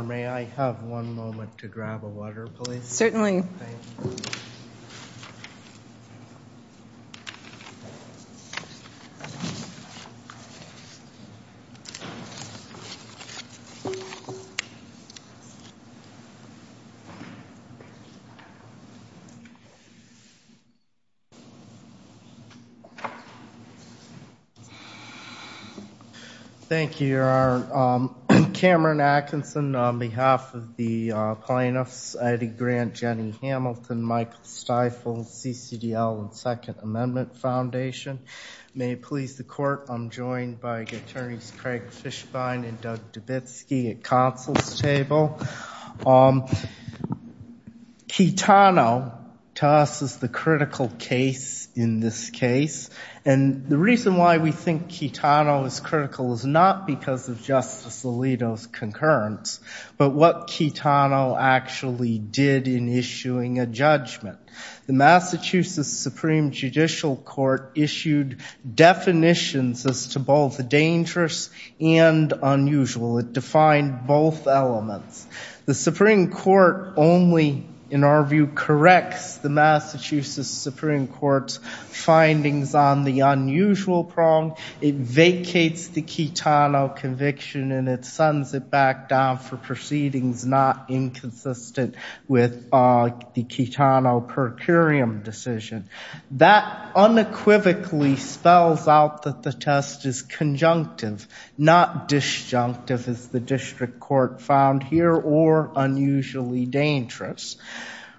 May I have one moment to grab a water, please? Certainly. Thank you. Thank you. Thank you. Thank you. Thank you. May it please the court, I'm joined by Attorneys Craig Fishbein and Doug Dubitsky at counsel's table. Kitano to us is the critical case in this case. And the reason why we think Kitano is critical is not because of Justice Alito's concurrence, but what Kitano actually did in issuing a judgment. The Massachusetts Supreme Judicial Court issued definitions as to both dangerous and unusual. It defined both elements. The Supreme Court only, in our view, corrects the Massachusetts Supreme Court's findings on the unusual prong. It vacates the Kitano conviction, and it sends it back down for proceedings not inconsistent with the Kitano per curiam decision. That unequivocally spells out that the test is conjunctive, not disjunctive, as the district court found here, or unusually dangerous.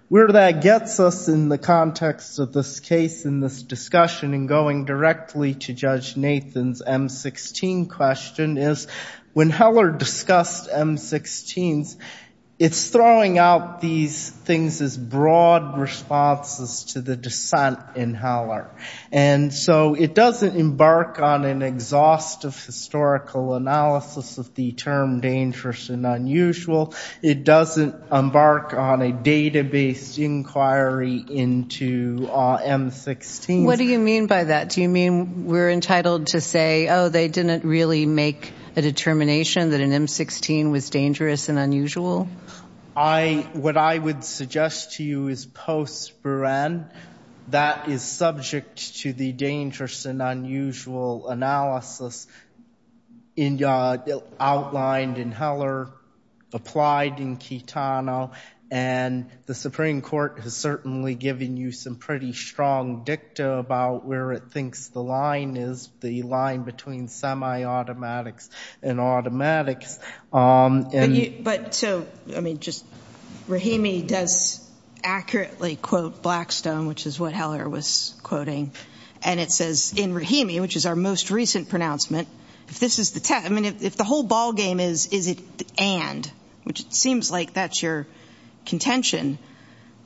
Where that gets us in the context of this case in this discussion, and going directly to Judge Nathan's M-16 question, is when Heller discussed M-16s, it's throwing out these things as broad responses to the dissent in Heller. And so it doesn't embark on an exhaustive historical analysis of the term dangerous and unusual. It doesn't embark on a database inquiry into M-16s. What do you mean by that? Do you mean we're entitled to say, oh, they didn't really make a determination that an M-16 was dangerous and unusual? What I would suggest to you is post-Buren, that is subject to the dangerous and unusual analysis outlined in Heller, applied in Kitano. And the Supreme Court has certainly given you some pretty strong dicta about where it thinks the line is, the line between semi-automatics and automatics. But so, I mean, just Rahimi does accurately quote Blackstone, which is what Heller was quoting. And it says, in Rahimi, which is our most recent pronouncement, if this is the test, I mean, if the whole ballgame is, is it the and, which it seems like that's your contention,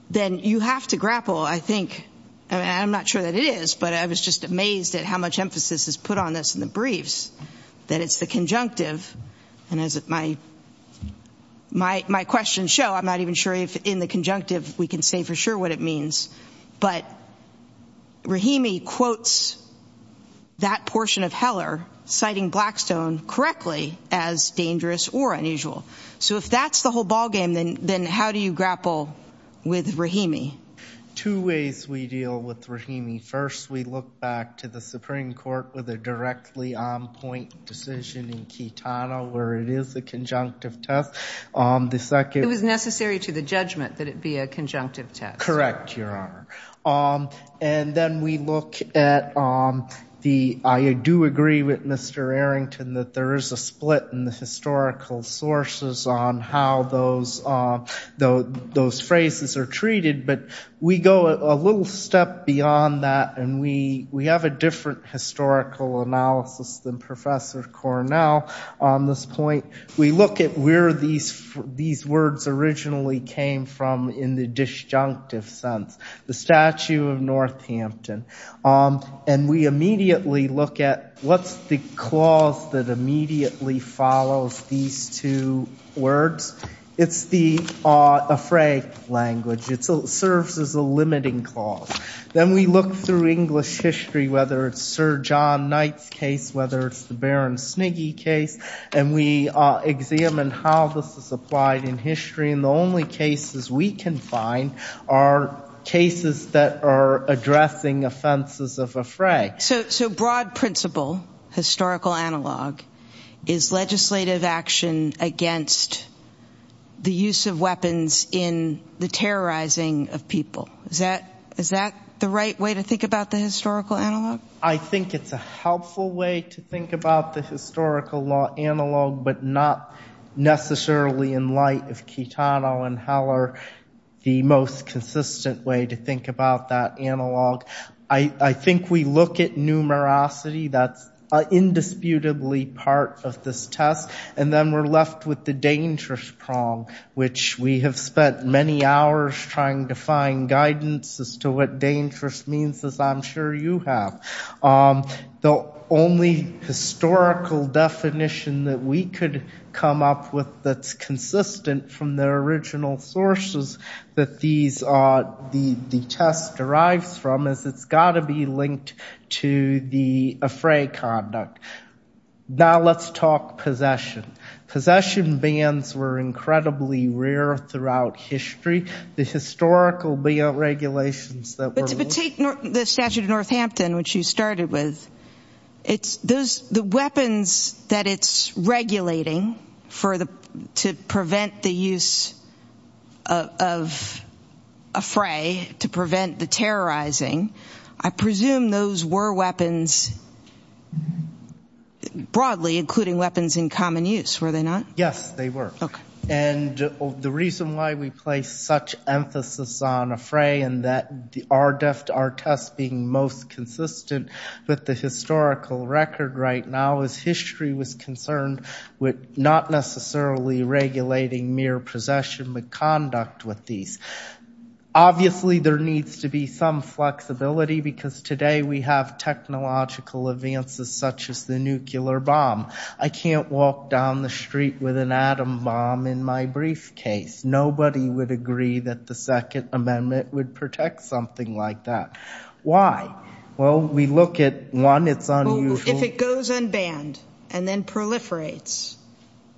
then you have to grapple, I think, and I'm not sure that it is, but I was just amazed at how much emphasis is put on this in the briefs, that it's the conjunctive. And as my questions show, I'm not even sure if in the conjunctive we can say for sure what it means. But Rahimi quotes that portion of Heller, citing Blackstone correctly as dangerous or unusual. So if that's the whole ballgame, then how do you grapple with Rahimi? Two ways we deal with Rahimi. First, we look back to the Supreme Court with a directly on-point decision in Kitano, where it is a conjunctive test. The second- It was necessary to the judgment that it be a conjunctive test. Correct, Your Honor. And then we look at the, I do agree with Mr. Arrington that there is a split in the historical sources on how those phrases are treated. But we go a little step beyond that, and we have a different historical analysis than Professor Cornell on this point. We look at where these words originally came from in the disjunctive sense, the statue of Northampton. And we immediately look at what's the clause that immediately follows these two words. It's the aphraic language. It serves as a limiting clause. Then we look through English history, whether it's Sir John Knight's case, whether it's the Baron Sniggy case, and we examine how this is applied in history. And the only cases we can find are cases that are addressing offenses of aphraic. So broad principle, historical analog, is legislative action against the use of weapons in the terrorizing of people. Is that the right way to think about the historical analog? I think it's a helpful way to think about the historical law analog, but not necessarily in light of Chitano and Heller, the most consistent way to think about that analog. I think we look at numerosity. That's indisputably part of this test. And then we're left with the dangerous prong, which we have spent many hours trying to find guidance as to what dangerous means, as I'm sure you have. The only historical definition that we could come up with that's consistent from the original sources that the test derives from is it's got to be linked to the aphraic conduct. Now let's talk possession. Possession bans were incredibly rare throughout history. The historical regulations that were ruled. But take the statute of Northampton, which you started with. The weapons that it's regulating to prevent the use of aphraic, to prevent the terrorizing, I presume those were weapons broadly, including weapons in common use, were they not? Yes, they were. And the reason why we place such emphasis on aphraic and that our test being most consistent with the historical record right now is history was concerned with not necessarily regulating mere possession but conduct with these. Obviously, there needs to be some flexibility because today we have technological advances such as the nuclear bomb. I can't walk down the street with an atom bomb in my briefcase. Nobody would agree that the Second Amendment would protect something like that. Why? Well, we look at, one, it's unusual. If it goes unbanned and then proliferates,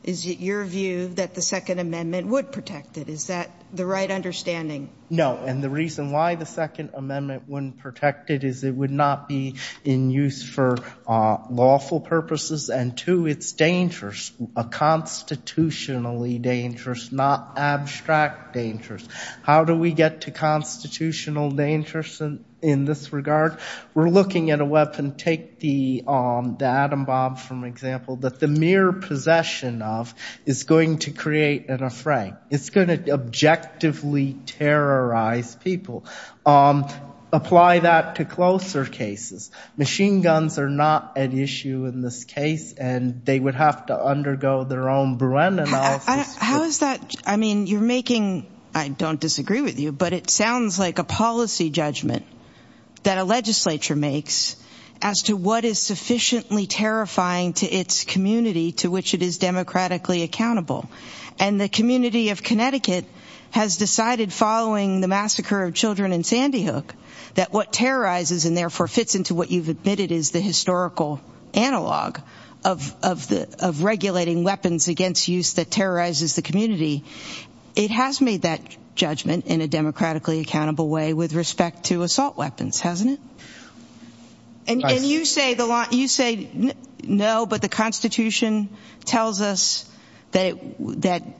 is it your view that the Second Amendment would protect it? Is that the right understanding? No, and the reason why the Second Amendment wouldn't protect it is it would not be in use for lawful purposes. And two, it's dangerous, constitutionally dangerous, not abstract dangerous. How do we get to constitutional dangers in this regard? We're looking at a weapon. Take the atom bomb, for example, that the mere possession of is going to create an aphraic. It's going to objectively terrorize people. Apply that to closer cases. Machine guns are not an issue in this case, and they would have to undergo their own Bruen analysis. How is that? I mean, you're making, I don't disagree with you, but it sounds like a policy judgment that a legislature makes as to what is sufficiently terrifying to its community to which it is democratically accountable. And the community of Connecticut has decided following the massacre of children in Sandy Hook that what terrorizes and therefore fits into what you've admitted is the historical analog of regulating weapons against use that terrorizes the community, it has made that judgment in a democratically accountable way with respect to assault weapons, hasn't it? And you say no, but the Constitution tells us that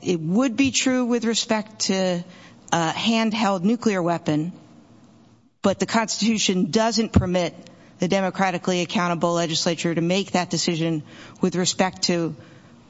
it would be true with respect to a handheld nuclear weapon, but the Constitution doesn't permit the democratically accountable legislature to make that decision with respect to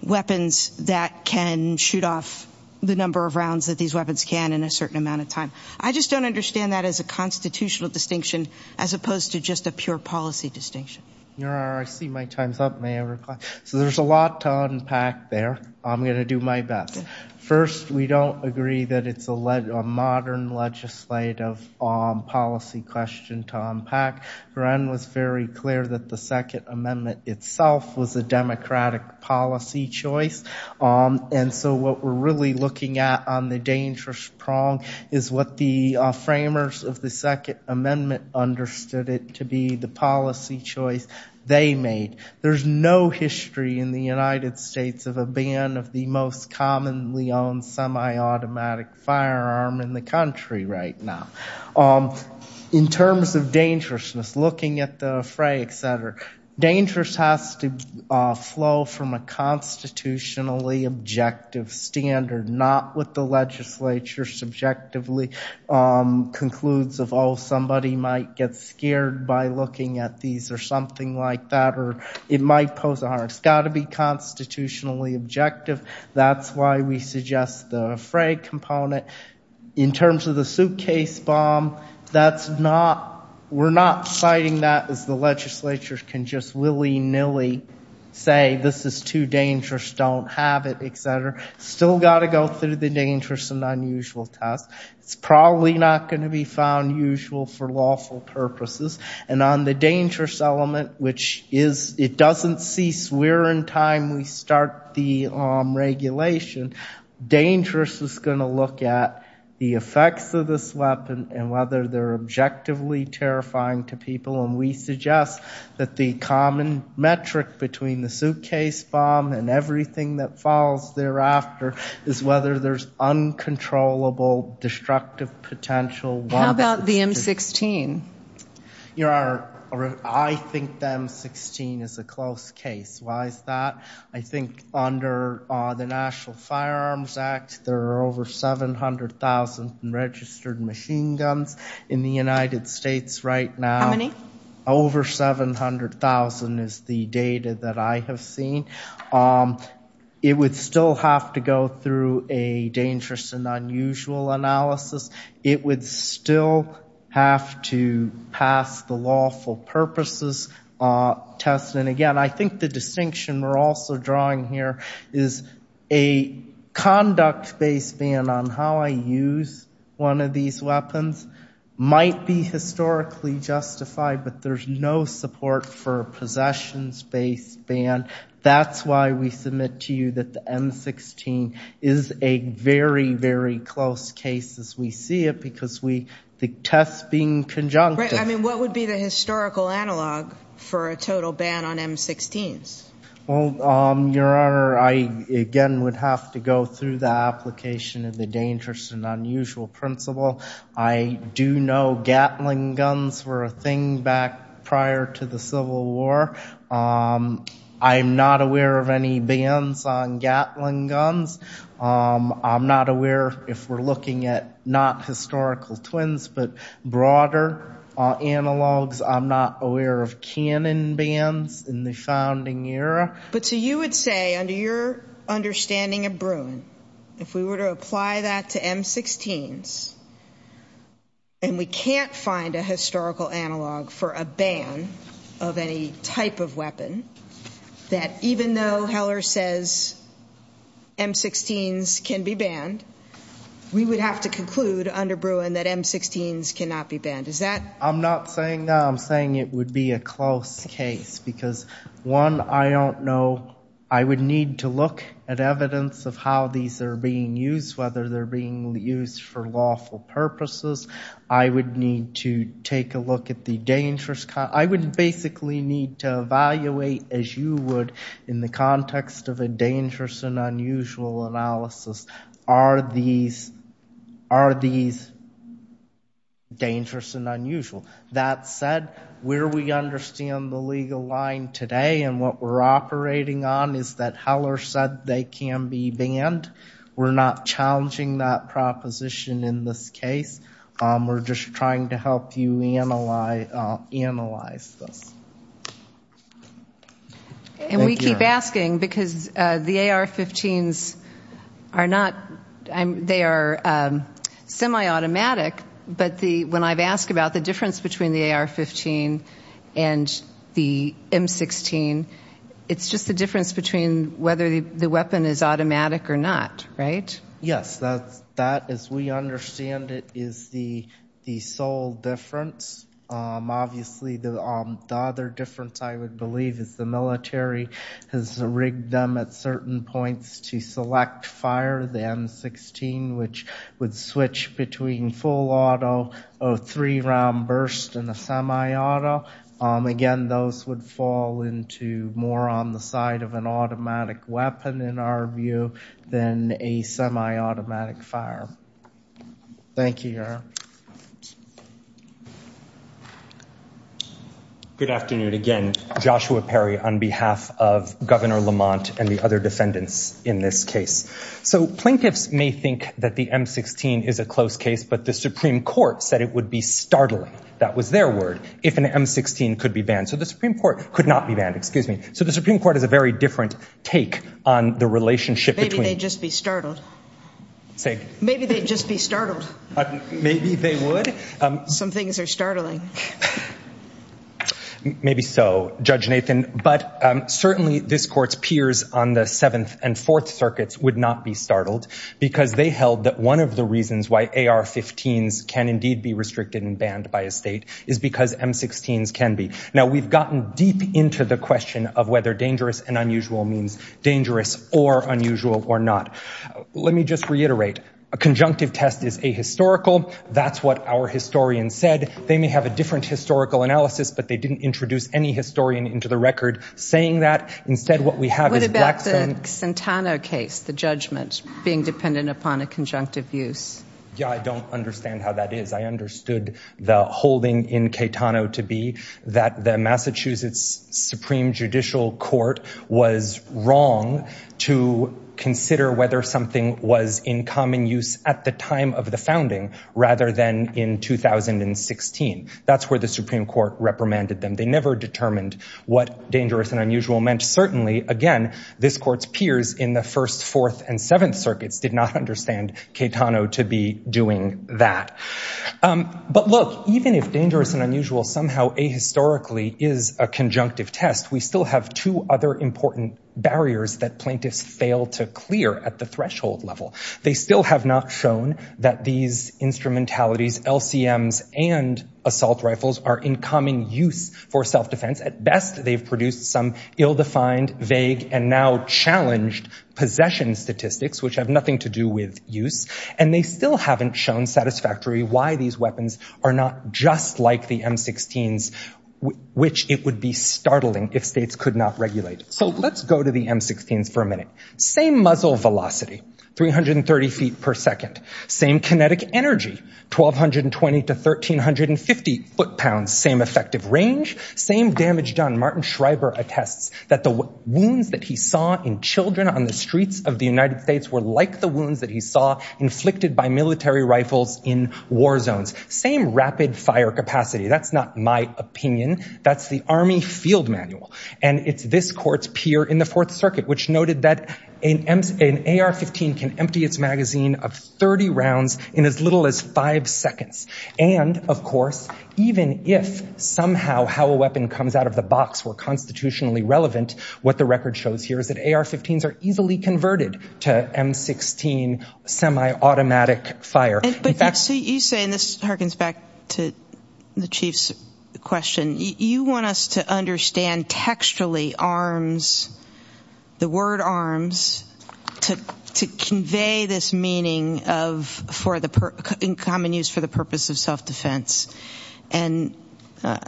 weapons that can shoot off the number of rounds that these weapons can in a certain amount of time. I just don't understand that as a constitutional distinction as opposed to just a pure policy distinction. I see my time's up, may I reply? So there's a lot to unpack there. I'm going to do my best. First, we don't agree that it's a modern legislative policy question to unpack. Bren was very clear that the Second Amendment itself was a democratic policy choice. And so what we're really looking at on the dangerous prong is what the framers of the Second Amendment understood it to be the policy choice they made. There's no history in the United States of a ban of the most commonly owned semi-automatic firearm in the country right now. In terms of dangerousness, looking at the fray, et cetera, dangerous has to flow from a constitutionally objective standard, not what the legislature subjectively concludes of, oh, somebody might get scared by looking at these or something like that or it might pose a harm. It's got to be constitutionally objective. That's why we suggest the fray component. In terms of the suitcase bomb, we're not citing that as the legislature can just willy nilly say this is too dangerous, don't have it, et cetera. Still got to go through the dangerous and unusual test. It's probably not going to be found usual for lawful purposes. And on the dangerous element, which it doesn't cease. We're in time. We start the regulation. Dangerous is going to look at the effects of this weapon and whether they're objectively terrifying to people. And we suggest that the common metric between the suitcase bomb and everything that falls thereafter is whether there's uncontrollable destructive potential. How about the M16? I think the M16 is a close case. Why is that? I think under the National Firearms Act, there are over 700,000 registered machine guns in the United States right now. How many? Over 700,000 is the data that I have seen. It would still have to go through a dangerous and unusual analysis. It would still have to pass the lawful purposes test. And again, I think the distinction we're also drawing here is a conduct-based ban on how I use one of these weapons might be historically justified, but there's no support for a possessions-based ban. That's why we submit to you that the M16 is a very, very close case as we see it because the tests being conjunctive. I mean, what would be the historical analog for a total ban on M16s? Well, Your Honor, I, again, would have to go through the application of the dangerous and unusual principle. I do know Gatling guns were a thing back prior to the Civil War. I'm not aware of any bans on Gatling guns. I'm not aware, if we're looking at not historical twins, but broader analogs. I'm not aware of cannon bans in the founding era. But so you would say, under your understanding of Bruin, if we were to apply that to M16s and we can't find a historical analog for a ban of any type of weapon, that even though Heller says M16s can be banned, we would have to conclude under Bruin that M16s cannot be banned. Is that? I'm not saying that. I'm saying it would be a close case because, one, I don't know. I would need to look at evidence of how these are being used, whether they're being used for lawful purposes. I would need to take a look at the dangerous kind. I would basically need to evaluate, as you would, in the context of a dangerous and unusual analysis, are these dangerous and unusual? That said, where we understand the legal line today and what we're operating on is that Heller said they can be banned. We're not challenging that proposition in this case. We're just trying to help you analyze this. And we keep asking because the AR-15s are not, they are semi-automatic. But when I've asked about the difference between the AR-15 and the M16, it's just the difference between whether the weapon is automatic or not, right? Yes, that, as we understand it, is the sole difference. Obviously, the other difference, I would believe, is the military has rigged them at certain points to select fire, the M16, which would switch between full auto, a three-round burst, and a semi-auto. Again, those would fall into more on the side of an automatic weapon, in our view, than a semi-automatic fire. Thank you, Your Honor. Good afternoon. Again, Joshua Perry on behalf of Governor Lamont and the other defendants in this case. So plaintiffs may think that the M16 is a close case, but the Supreme Court said it would be startling, that was their word, if an M16 could be banned. So the Supreme Court could not be banned, excuse me. So the Supreme Court has a very different take on the relationship between- Maybe they'd just be startled. Say? Maybe they'd just be startled. Maybe they would. Some things are startling. Maybe so, Judge Nathan. But certainly, this court's peers on the Seventh and Fourth Circuits would not be startled, because they held that one of the reasons why AR-15s can indeed be restricted and banned by a state is because M16s can be. Now, we've gotten deep into the question of whether dangerous and unusual means dangerous or unusual or not. Let me just reiterate, a conjunctive test is ahistorical. That's what our historians said. They may have a different historical analysis, but they didn't introduce any historian into the record saying that. Instead, what we have is- What about the Centano case, the judgment, being dependent upon a conjunctive use? Yeah, I don't understand how that is. I understood the holding in Caetano to be that the Massachusetts Supreme Judicial Court was wrong to consider whether something was in common use at the time of the founding rather than in 2016. That's where the Supreme Court reprimanded them. They never determined what dangerous and unusual meant. Certainly, again, this court's peers in the First, Fourth, and Seventh Circuits did not understand Caetano to be doing that. But look, even if dangerous and unusual somehow ahistorically is a conjunctive test, we still have two other important barriers that plaintiffs fail to clear at the threshold level. They still have not shown that these instrumentalities, LCMs and assault rifles are in common use for self-defense. At best, they've produced some ill-defined, vague, and now challenged possession statistics which have nothing to do with use. And they still haven't shown satisfactorily why these weapons are not just like the M16s, which it would be startling if states could not regulate. So let's go to the M16s for a minute. Same muzzle velocity, 330 feet per second. Same kinetic energy, 1,220 to 1,350 foot-pounds. Same effective range, same damage done. Martin Schreiber attests that the wounds that he saw in children on the streets of the United States were like the wounds that he saw inflicted by military rifles in war zones. Same rapid fire capacity. That's not my opinion. That's the Army Field Manual. And it's this court's peer in the Fourth Circuit, which noted that an AR-15 can empty its magazine of 30 rounds in as little as five seconds. And, of course, even if somehow how a weapon comes out of the box were constitutionally relevant, what the record shows here is that AR-15s are easily converted to M16 semi-automatic fire. In fact- So you say, and this harkens back to the Chief's question, you want us to understand textually arms, the word arms, to convey this meaning of, in common use for the purpose of self-defense. And I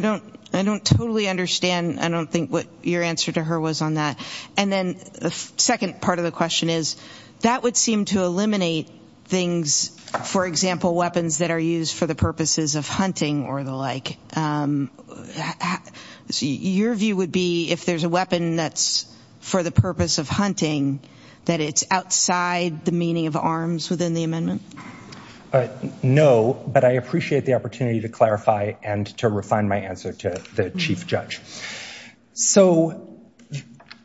don't totally understand, I don't think what your answer to her was on that. And then the second part of the question is, that would seem to eliminate things, for example, weapons that are used for the purposes of hunting or the like. So your view would be, if there's a weapon that's for the purpose of hunting, that it's outside the meaning of arms within the amendment? No, but I appreciate the opportunity to clarify and to refine my answer to the Chief Judge. So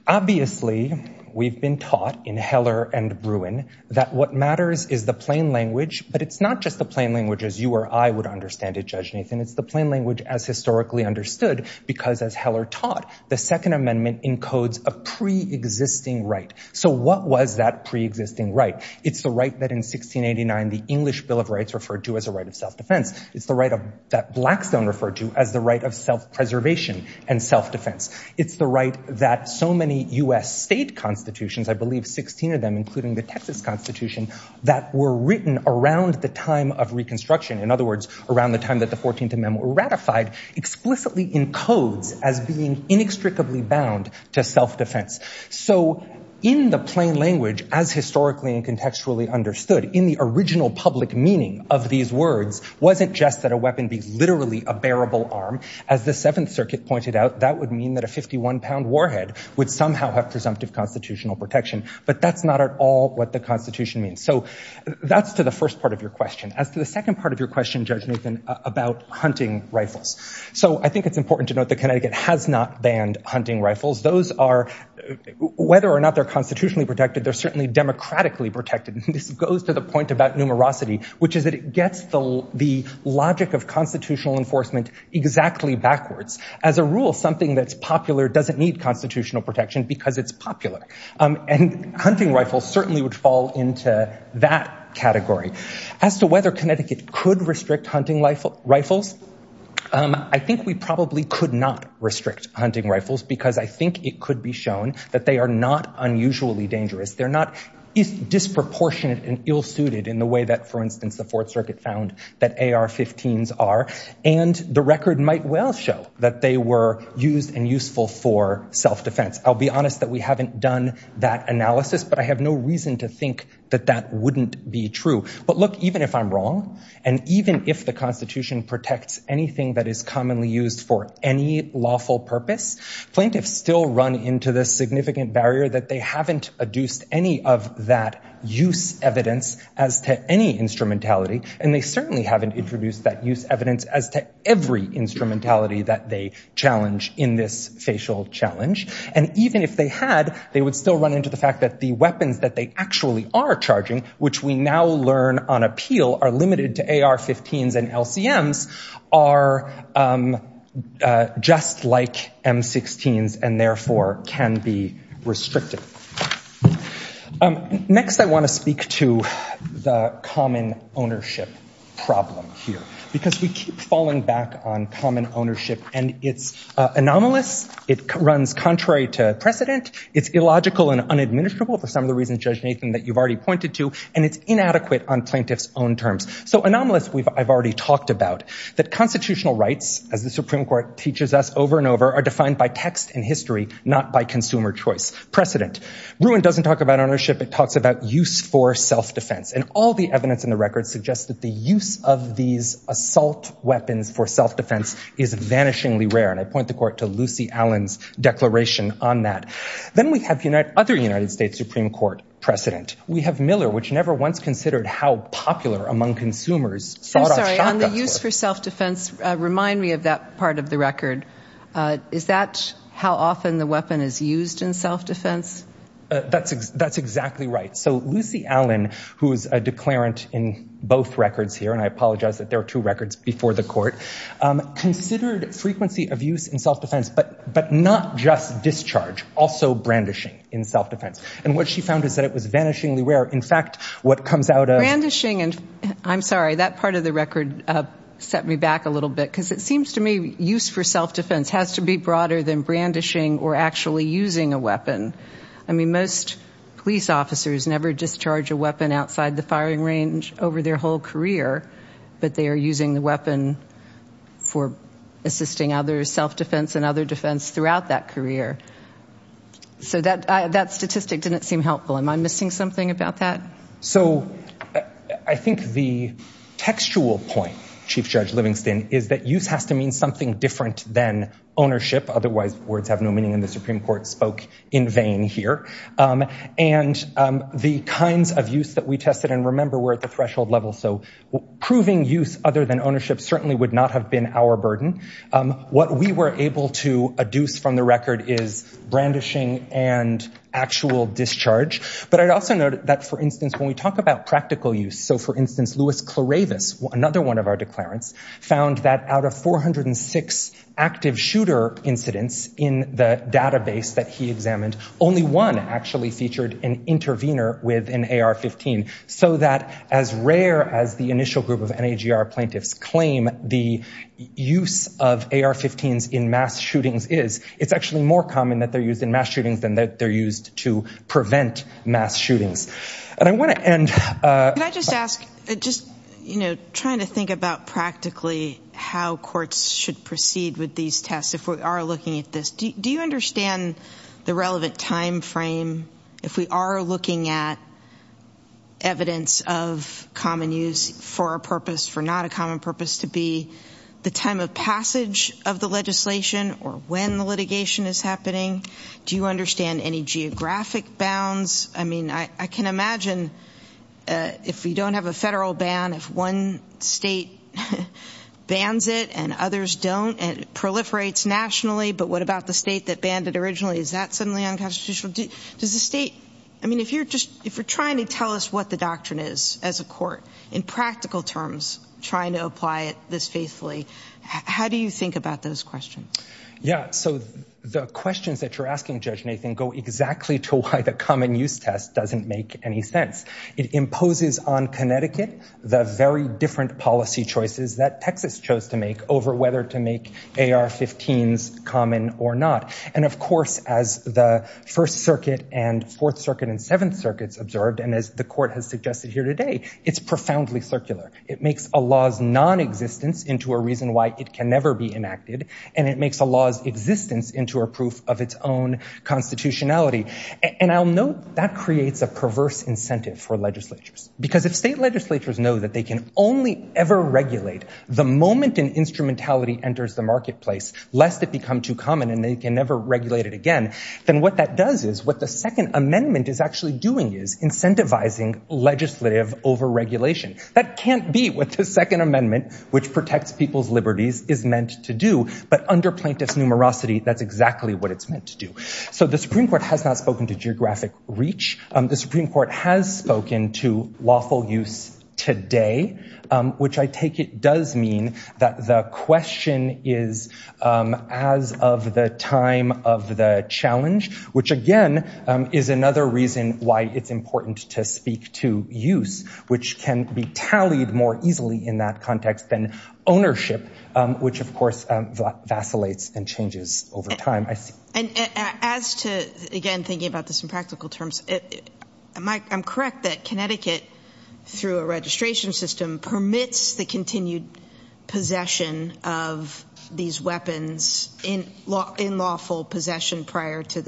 obviously, we've been taught in Heller and Bruin, that what matters is the plain language, but it's not just the plain language as you or I would understand it, Judge Nathan, it's the plain language as historically understood, because as Heller taught, the Second Amendment encodes a pre-existing right. So what was that pre-existing right? It's the right that in 1689, the English Bill of Rights referred to as a right of self-defense. It's the right that Blackstone referred to as the right of self-preservation. It's the right that so many U.S. state constitutions, I believe 16 of them, including the Texas Constitution, that were written around the time of Reconstruction, in other words, around the time that the 14th Amendment ratified, explicitly encodes as being inextricably bound to self-defense. So in the plain language, as historically and contextually understood, in the original public meaning of these words, wasn't just that a weapon be literally a bearable arm, as the Seventh Circuit pointed out, that would mean that a 51-pound warhead would somehow have presumptive constitutional protection, but that's not at all what the Constitution means. So that's to the first part of your question. As to the second part of your question, Judge Nathan, about hunting rifles. So I think it's important to note that Connecticut has not banned hunting rifles. Those are, whether or not they're constitutionally protected, they're certainly democratically protected. And this goes to the point about numerosity, which is that it gets the logic of constitutional enforcement exactly backwards. As a rule, something that's popular doesn't need constitutional protection because it's popular. And hunting rifles certainly would fall into that category. As to whether Connecticut could restrict hunting rifles, I think we probably could not restrict hunting rifles because I think it could be shown that they are not unusually dangerous. They're not disproportionate and ill-suited in the way that, for instance, the Fourth Circuit found that AR-15s are. And the record might well show that they were used and useful for self-defense. I'll be honest that we haven't done that analysis, but I have no reason to think that that wouldn't be true. But look, even if I'm wrong, and even if the Constitution protects anything that is commonly used for any lawful purpose, plaintiffs still run into the significant barrier that they haven't adduced any of that use evidence as to any instrumentality. And they certainly haven't introduced that use evidence as to every instrumentality that they challenge in this facial challenge. And even if they had, they would still run into the fact that the weapons that they actually are charging, which we now learn on appeal are limited to AR-15s and LCMs, are just like M-16s and therefore can be restricted. Next, I wanna speak to the common ownership problem here, because we keep falling back on common ownership and it's anomalous, it runs contrary to precedent, it's illogical and unadministrable for some of the reasons, Judge Nathan, that you've already pointed to, and it's inadequate on plaintiff's own terms. So anomalous, I've already talked about. That constitutional rights, as the Supreme Court teaches us over and over, are defined by text and history, not by consumer choice. Precedent. Ruin doesn't talk about ownership, it talks about use for self-defense. And all the evidence in the records suggests that the use of these assault weapons for self-defense is vanishingly rare. And I point the court to Lucy Allen's declaration on that. Then we have other United States Supreme Court precedent. We have Miller, which never once considered how popular among consumers, thought of shotguns were. I'm sorry, on the use for self-defense, remind me of that part of the record. Is that how often the weapon is used in self-defense? That's exactly right. So Lucy Allen, who is a declarant in both records here, and I apologize that there are two records before the court, considered frequency of use in self-defense, but not just discharge, also brandishing in self-defense. And what she found is that it was vanishingly rare. In fact, what comes out of- Brandishing, and I'm sorry, that part of the record set me back a little bit, because it seems to me use for self-defense has to be broader than brandishing or actually using a weapon. I mean, most police officers never discharge a weapon outside the firing range over their whole career, but they are using the weapon for assisting other self-defense and other defense throughout that career. So that statistic didn't seem helpful. Am I missing something about that? So I think the textual point, Chief Judge Livingston, is that use has to mean something different than ownership. Otherwise, words have no meaning, and the Supreme Court spoke in vain here. And the kinds of use that we tested, and remember, we're at the threshold level, so proving use other than ownership certainly would not have been our burden. What we were able to adduce from the record is brandishing and actual discharge. But I'd also note that, for instance, when we talk about practical use, so for instance, Lewis Cloravis, another one of our declarants, found that out of 406 active shooter incidents in the database that he examined, only one actually featured an intervener with an AR-15, so that, as rare as the initial group of NAGR plaintiffs claim the use of AR-15s in mass shootings is, it's actually more common that they're used in mass shootings than that they're used to prevent mass shootings. And I want to end- Can I just ask, just, you know, trying to think about practically how courts should proceed with these tests if we are looking at this, do you understand the relevant timeframe if we are looking at evidence of common use for a purpose, for not a common purpose, to be the time of passage of the legislation or when the litigation is happening? Do you understand any geographic bounds? I mean, I can imagine if we don't have a federal ban, if one state bans it and others don't and it proliferates nationally, but what about the state that banned it originally? Is that suddenly unconstitutional? Does the state, I mean, if you're just, if you're trying to tell us what the doctrine is as a court in practical terms, trying to apply it this faithfully, how do you think about those questions? Yeah, so the questions that you're asking, Judge Nathan, go exactly to why the common use test doesn't make any sense. It imposes on Connecticut the very different policy choices that Texas chose to make over whether to make AR-15s common or not. And of course, as the First Circuit and Fourth Circuit and Seventh Circuits observed, and as the court has suggested here today, it's profoundly circular. It makes a law's non-existence into a reason why it can never be enacted and it makes a law's existence into a proof of its own constitutionality. And I'll note that creates a perverse incentive for legislatures. Because if state legislatures know that they can only ever regulate the moment an instrumentality enters the marketplace, lest it become too common and they can never regulate it again, then what that does is, what the Second Amendment is actually doing is incentivizing legislative over-regulation. That can't be what the Second Amendment, which protects people's liberties, is meant to do. But under plaintiff's numerosity, that's exactly what it's meant to do. So the Supreme Court has not spoken to geographic reach. The Supreme Court has spoken to lawful use today, which I take it does mean that the question is as of the time of the challenge, which again is another reason why it's important to speak to use, which can be tallied more easily in that context than ownership, which of course vacillates and changes over time. And as to, again, thinking about this in practical terms, I'm correct that Connecticut, through a registration system, permits the continued possession of these weapons in lawful possession prior to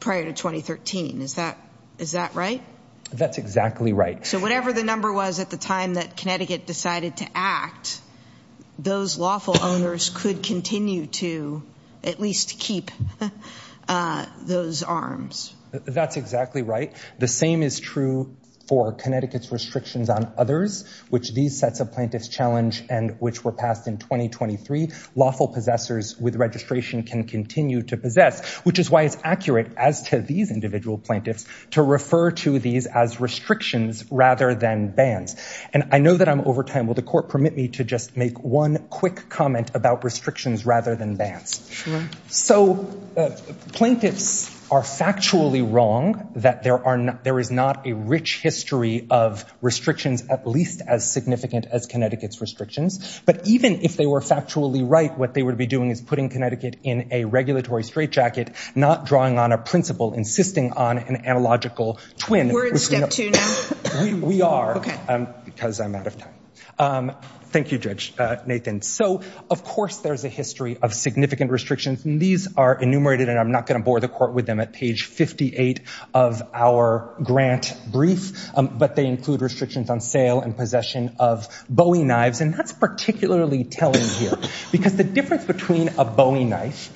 2013, is that right? That's exactly right. So whatever the number was at the time that Connecticut decided to act, those lawful owners could continue to at least keep those arms. That's exactly right. The same is true for Connecticut's restrictions on others, which these sets of plaintiffs challenge and which were passed in 2023. Lawful possessors with registration can continue to possess, which is why it's accurate as to these individual plaintiffs to refer to these as restrictions rather than bans. And I know that I'm over time. Will the court permit me to just make one quick comment about restrictions rather than bans? So plaintiffs are factually wrong that there is not a rich history of restrictions at least as significant as Connecticut's restrictions. But even if they were factually right, what they would be doing is putting Connecticut in a regulatory straitjacket, not drawing on a principle, insisting on an analogical twin. We're in step two now? We are, because I'm out of time. Thank you, Judge Nathan. So of course there's a history of significant restrictions and these are enumerated and I'm not gonna bore the court with them at page 58 of our grant brief, but they include restrictions on sale and possession of Bowie knives. And that's particularly telling here because the difference between a Bowie knife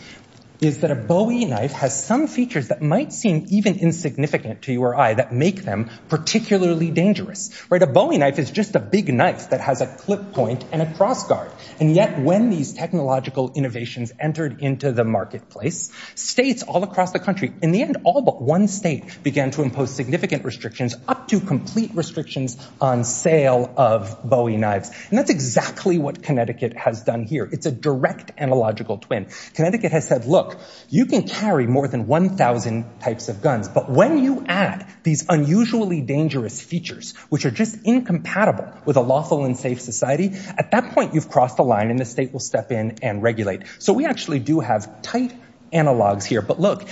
is that a Bowie knife has some features that might seem even insignificant to you or I that make them particularly dangerous, right? A Bowie knife is just a big knife that has a clip point and a cross guard. And yet when these technological innovations entered into the marketplace, states all across the country, in the end all but one state began to impose significant restrictions up to complete restrictions on sale of Bowie knives. And that's exactly what Connecticut has done here. It's a direct analogical twin. Connecticut has said, look, you can carry more than 1,000 types of guns, but when you add these unusually dangerous features, which are just incompatible with a lawful and safe society, at that point you've crossed the line and the state will step in and regulate. So we actually do have tight analogs here. But look,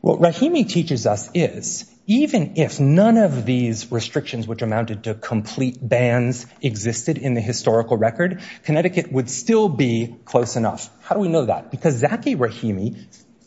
what Rahimi teaches us is even if none of these restrictions which amounted to complete bans existed in the historical record, Connecticut would still be close enough. How do we know that? Because Zaki Rahimi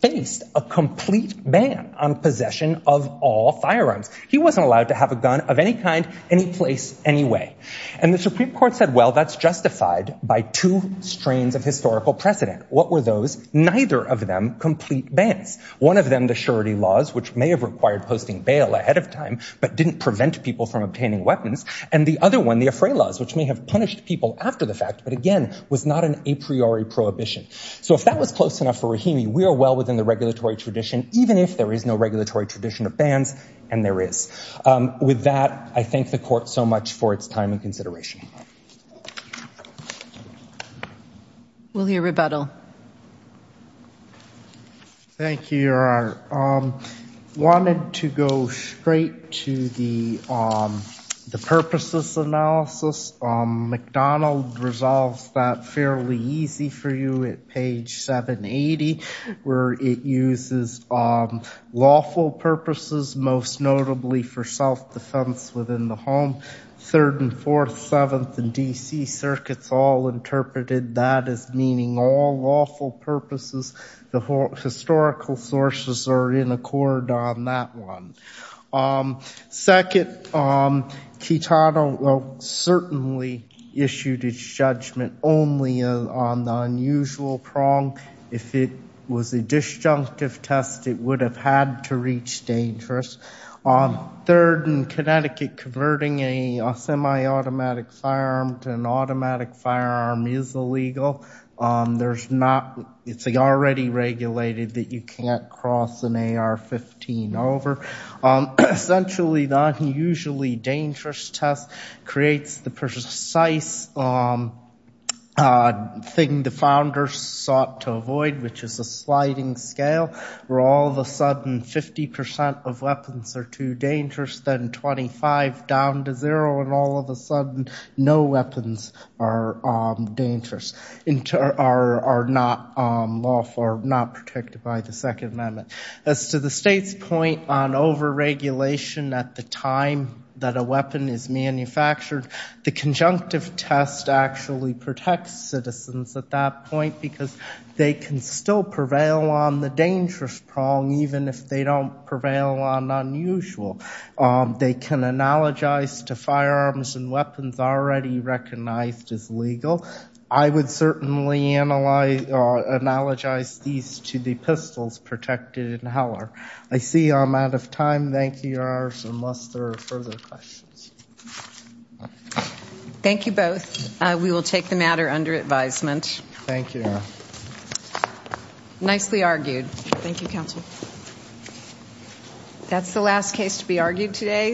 faced a complete ban on possession of all firearms. He wasn't allowed to have a gun of any kind, any place, any way. And the Supreme Court said, well, that's justified by two strains of historical precedent. What were those? Neither of them complete bans. One of them, the surety laws, which may have required posting bail ahead of time, but didn't prevent people from obtaining weapons, and the other one, the affray laws, which may have punished people after the fact, but again, was not an a priori prohibition. So if that was close enough for Rahimi, we are well within the regulatory tradition, even if there is no regulatory tradition of bans, and there is. With that, I thank the court so much for its time and consideration. Will you rebuttal? Thank you, Your Honor. Wanted to go straight to the purposes analysis. McDonald resolves that fairly easy for you at page 780, where it uses lawful purposes, most notably for self-defense within the home. Third and fourth, seventh, and DC circuits all interpreted that as meaning all lawful purposes. The historical sources are in accord on that one. Second, Kitano certainly issued his judgment only on the unusual prong. If it was a disjunctive test, it would have had to reach dangerous. Third, in Connecticut, converting a semi-automatic firearm to an automatic firearm is illegal. It's already regulated that you can't cross an AR-15 over. Essentially, the unusually dangerous test creates the precise thing the founders sought to avoid, which is a sliding scale, where all of a sudden, 50% of weapons are too dangerous, then 25 down to zero, and all of a sudden, no weapons are dangerous, are not lawful or not protected by the Second Amendment. As to the state's point on over-regulation at the time that a weapon is manufactured, the conjunctive test actually protects citizens at that point because they can still prevail on the dangerous prong, even if they don't prevail on unusual. They can analogize to firearms and weapons already recognized as legal. I would certainly analogize these to the pistols protected in Heller. I see I'm out of time. Thank you, your honors, unless there are further questions. Thank you both. We will take the matter under advisement. Thank you, your honor. Nicely argued. Thank you, counsel. That's the last case to be argued today,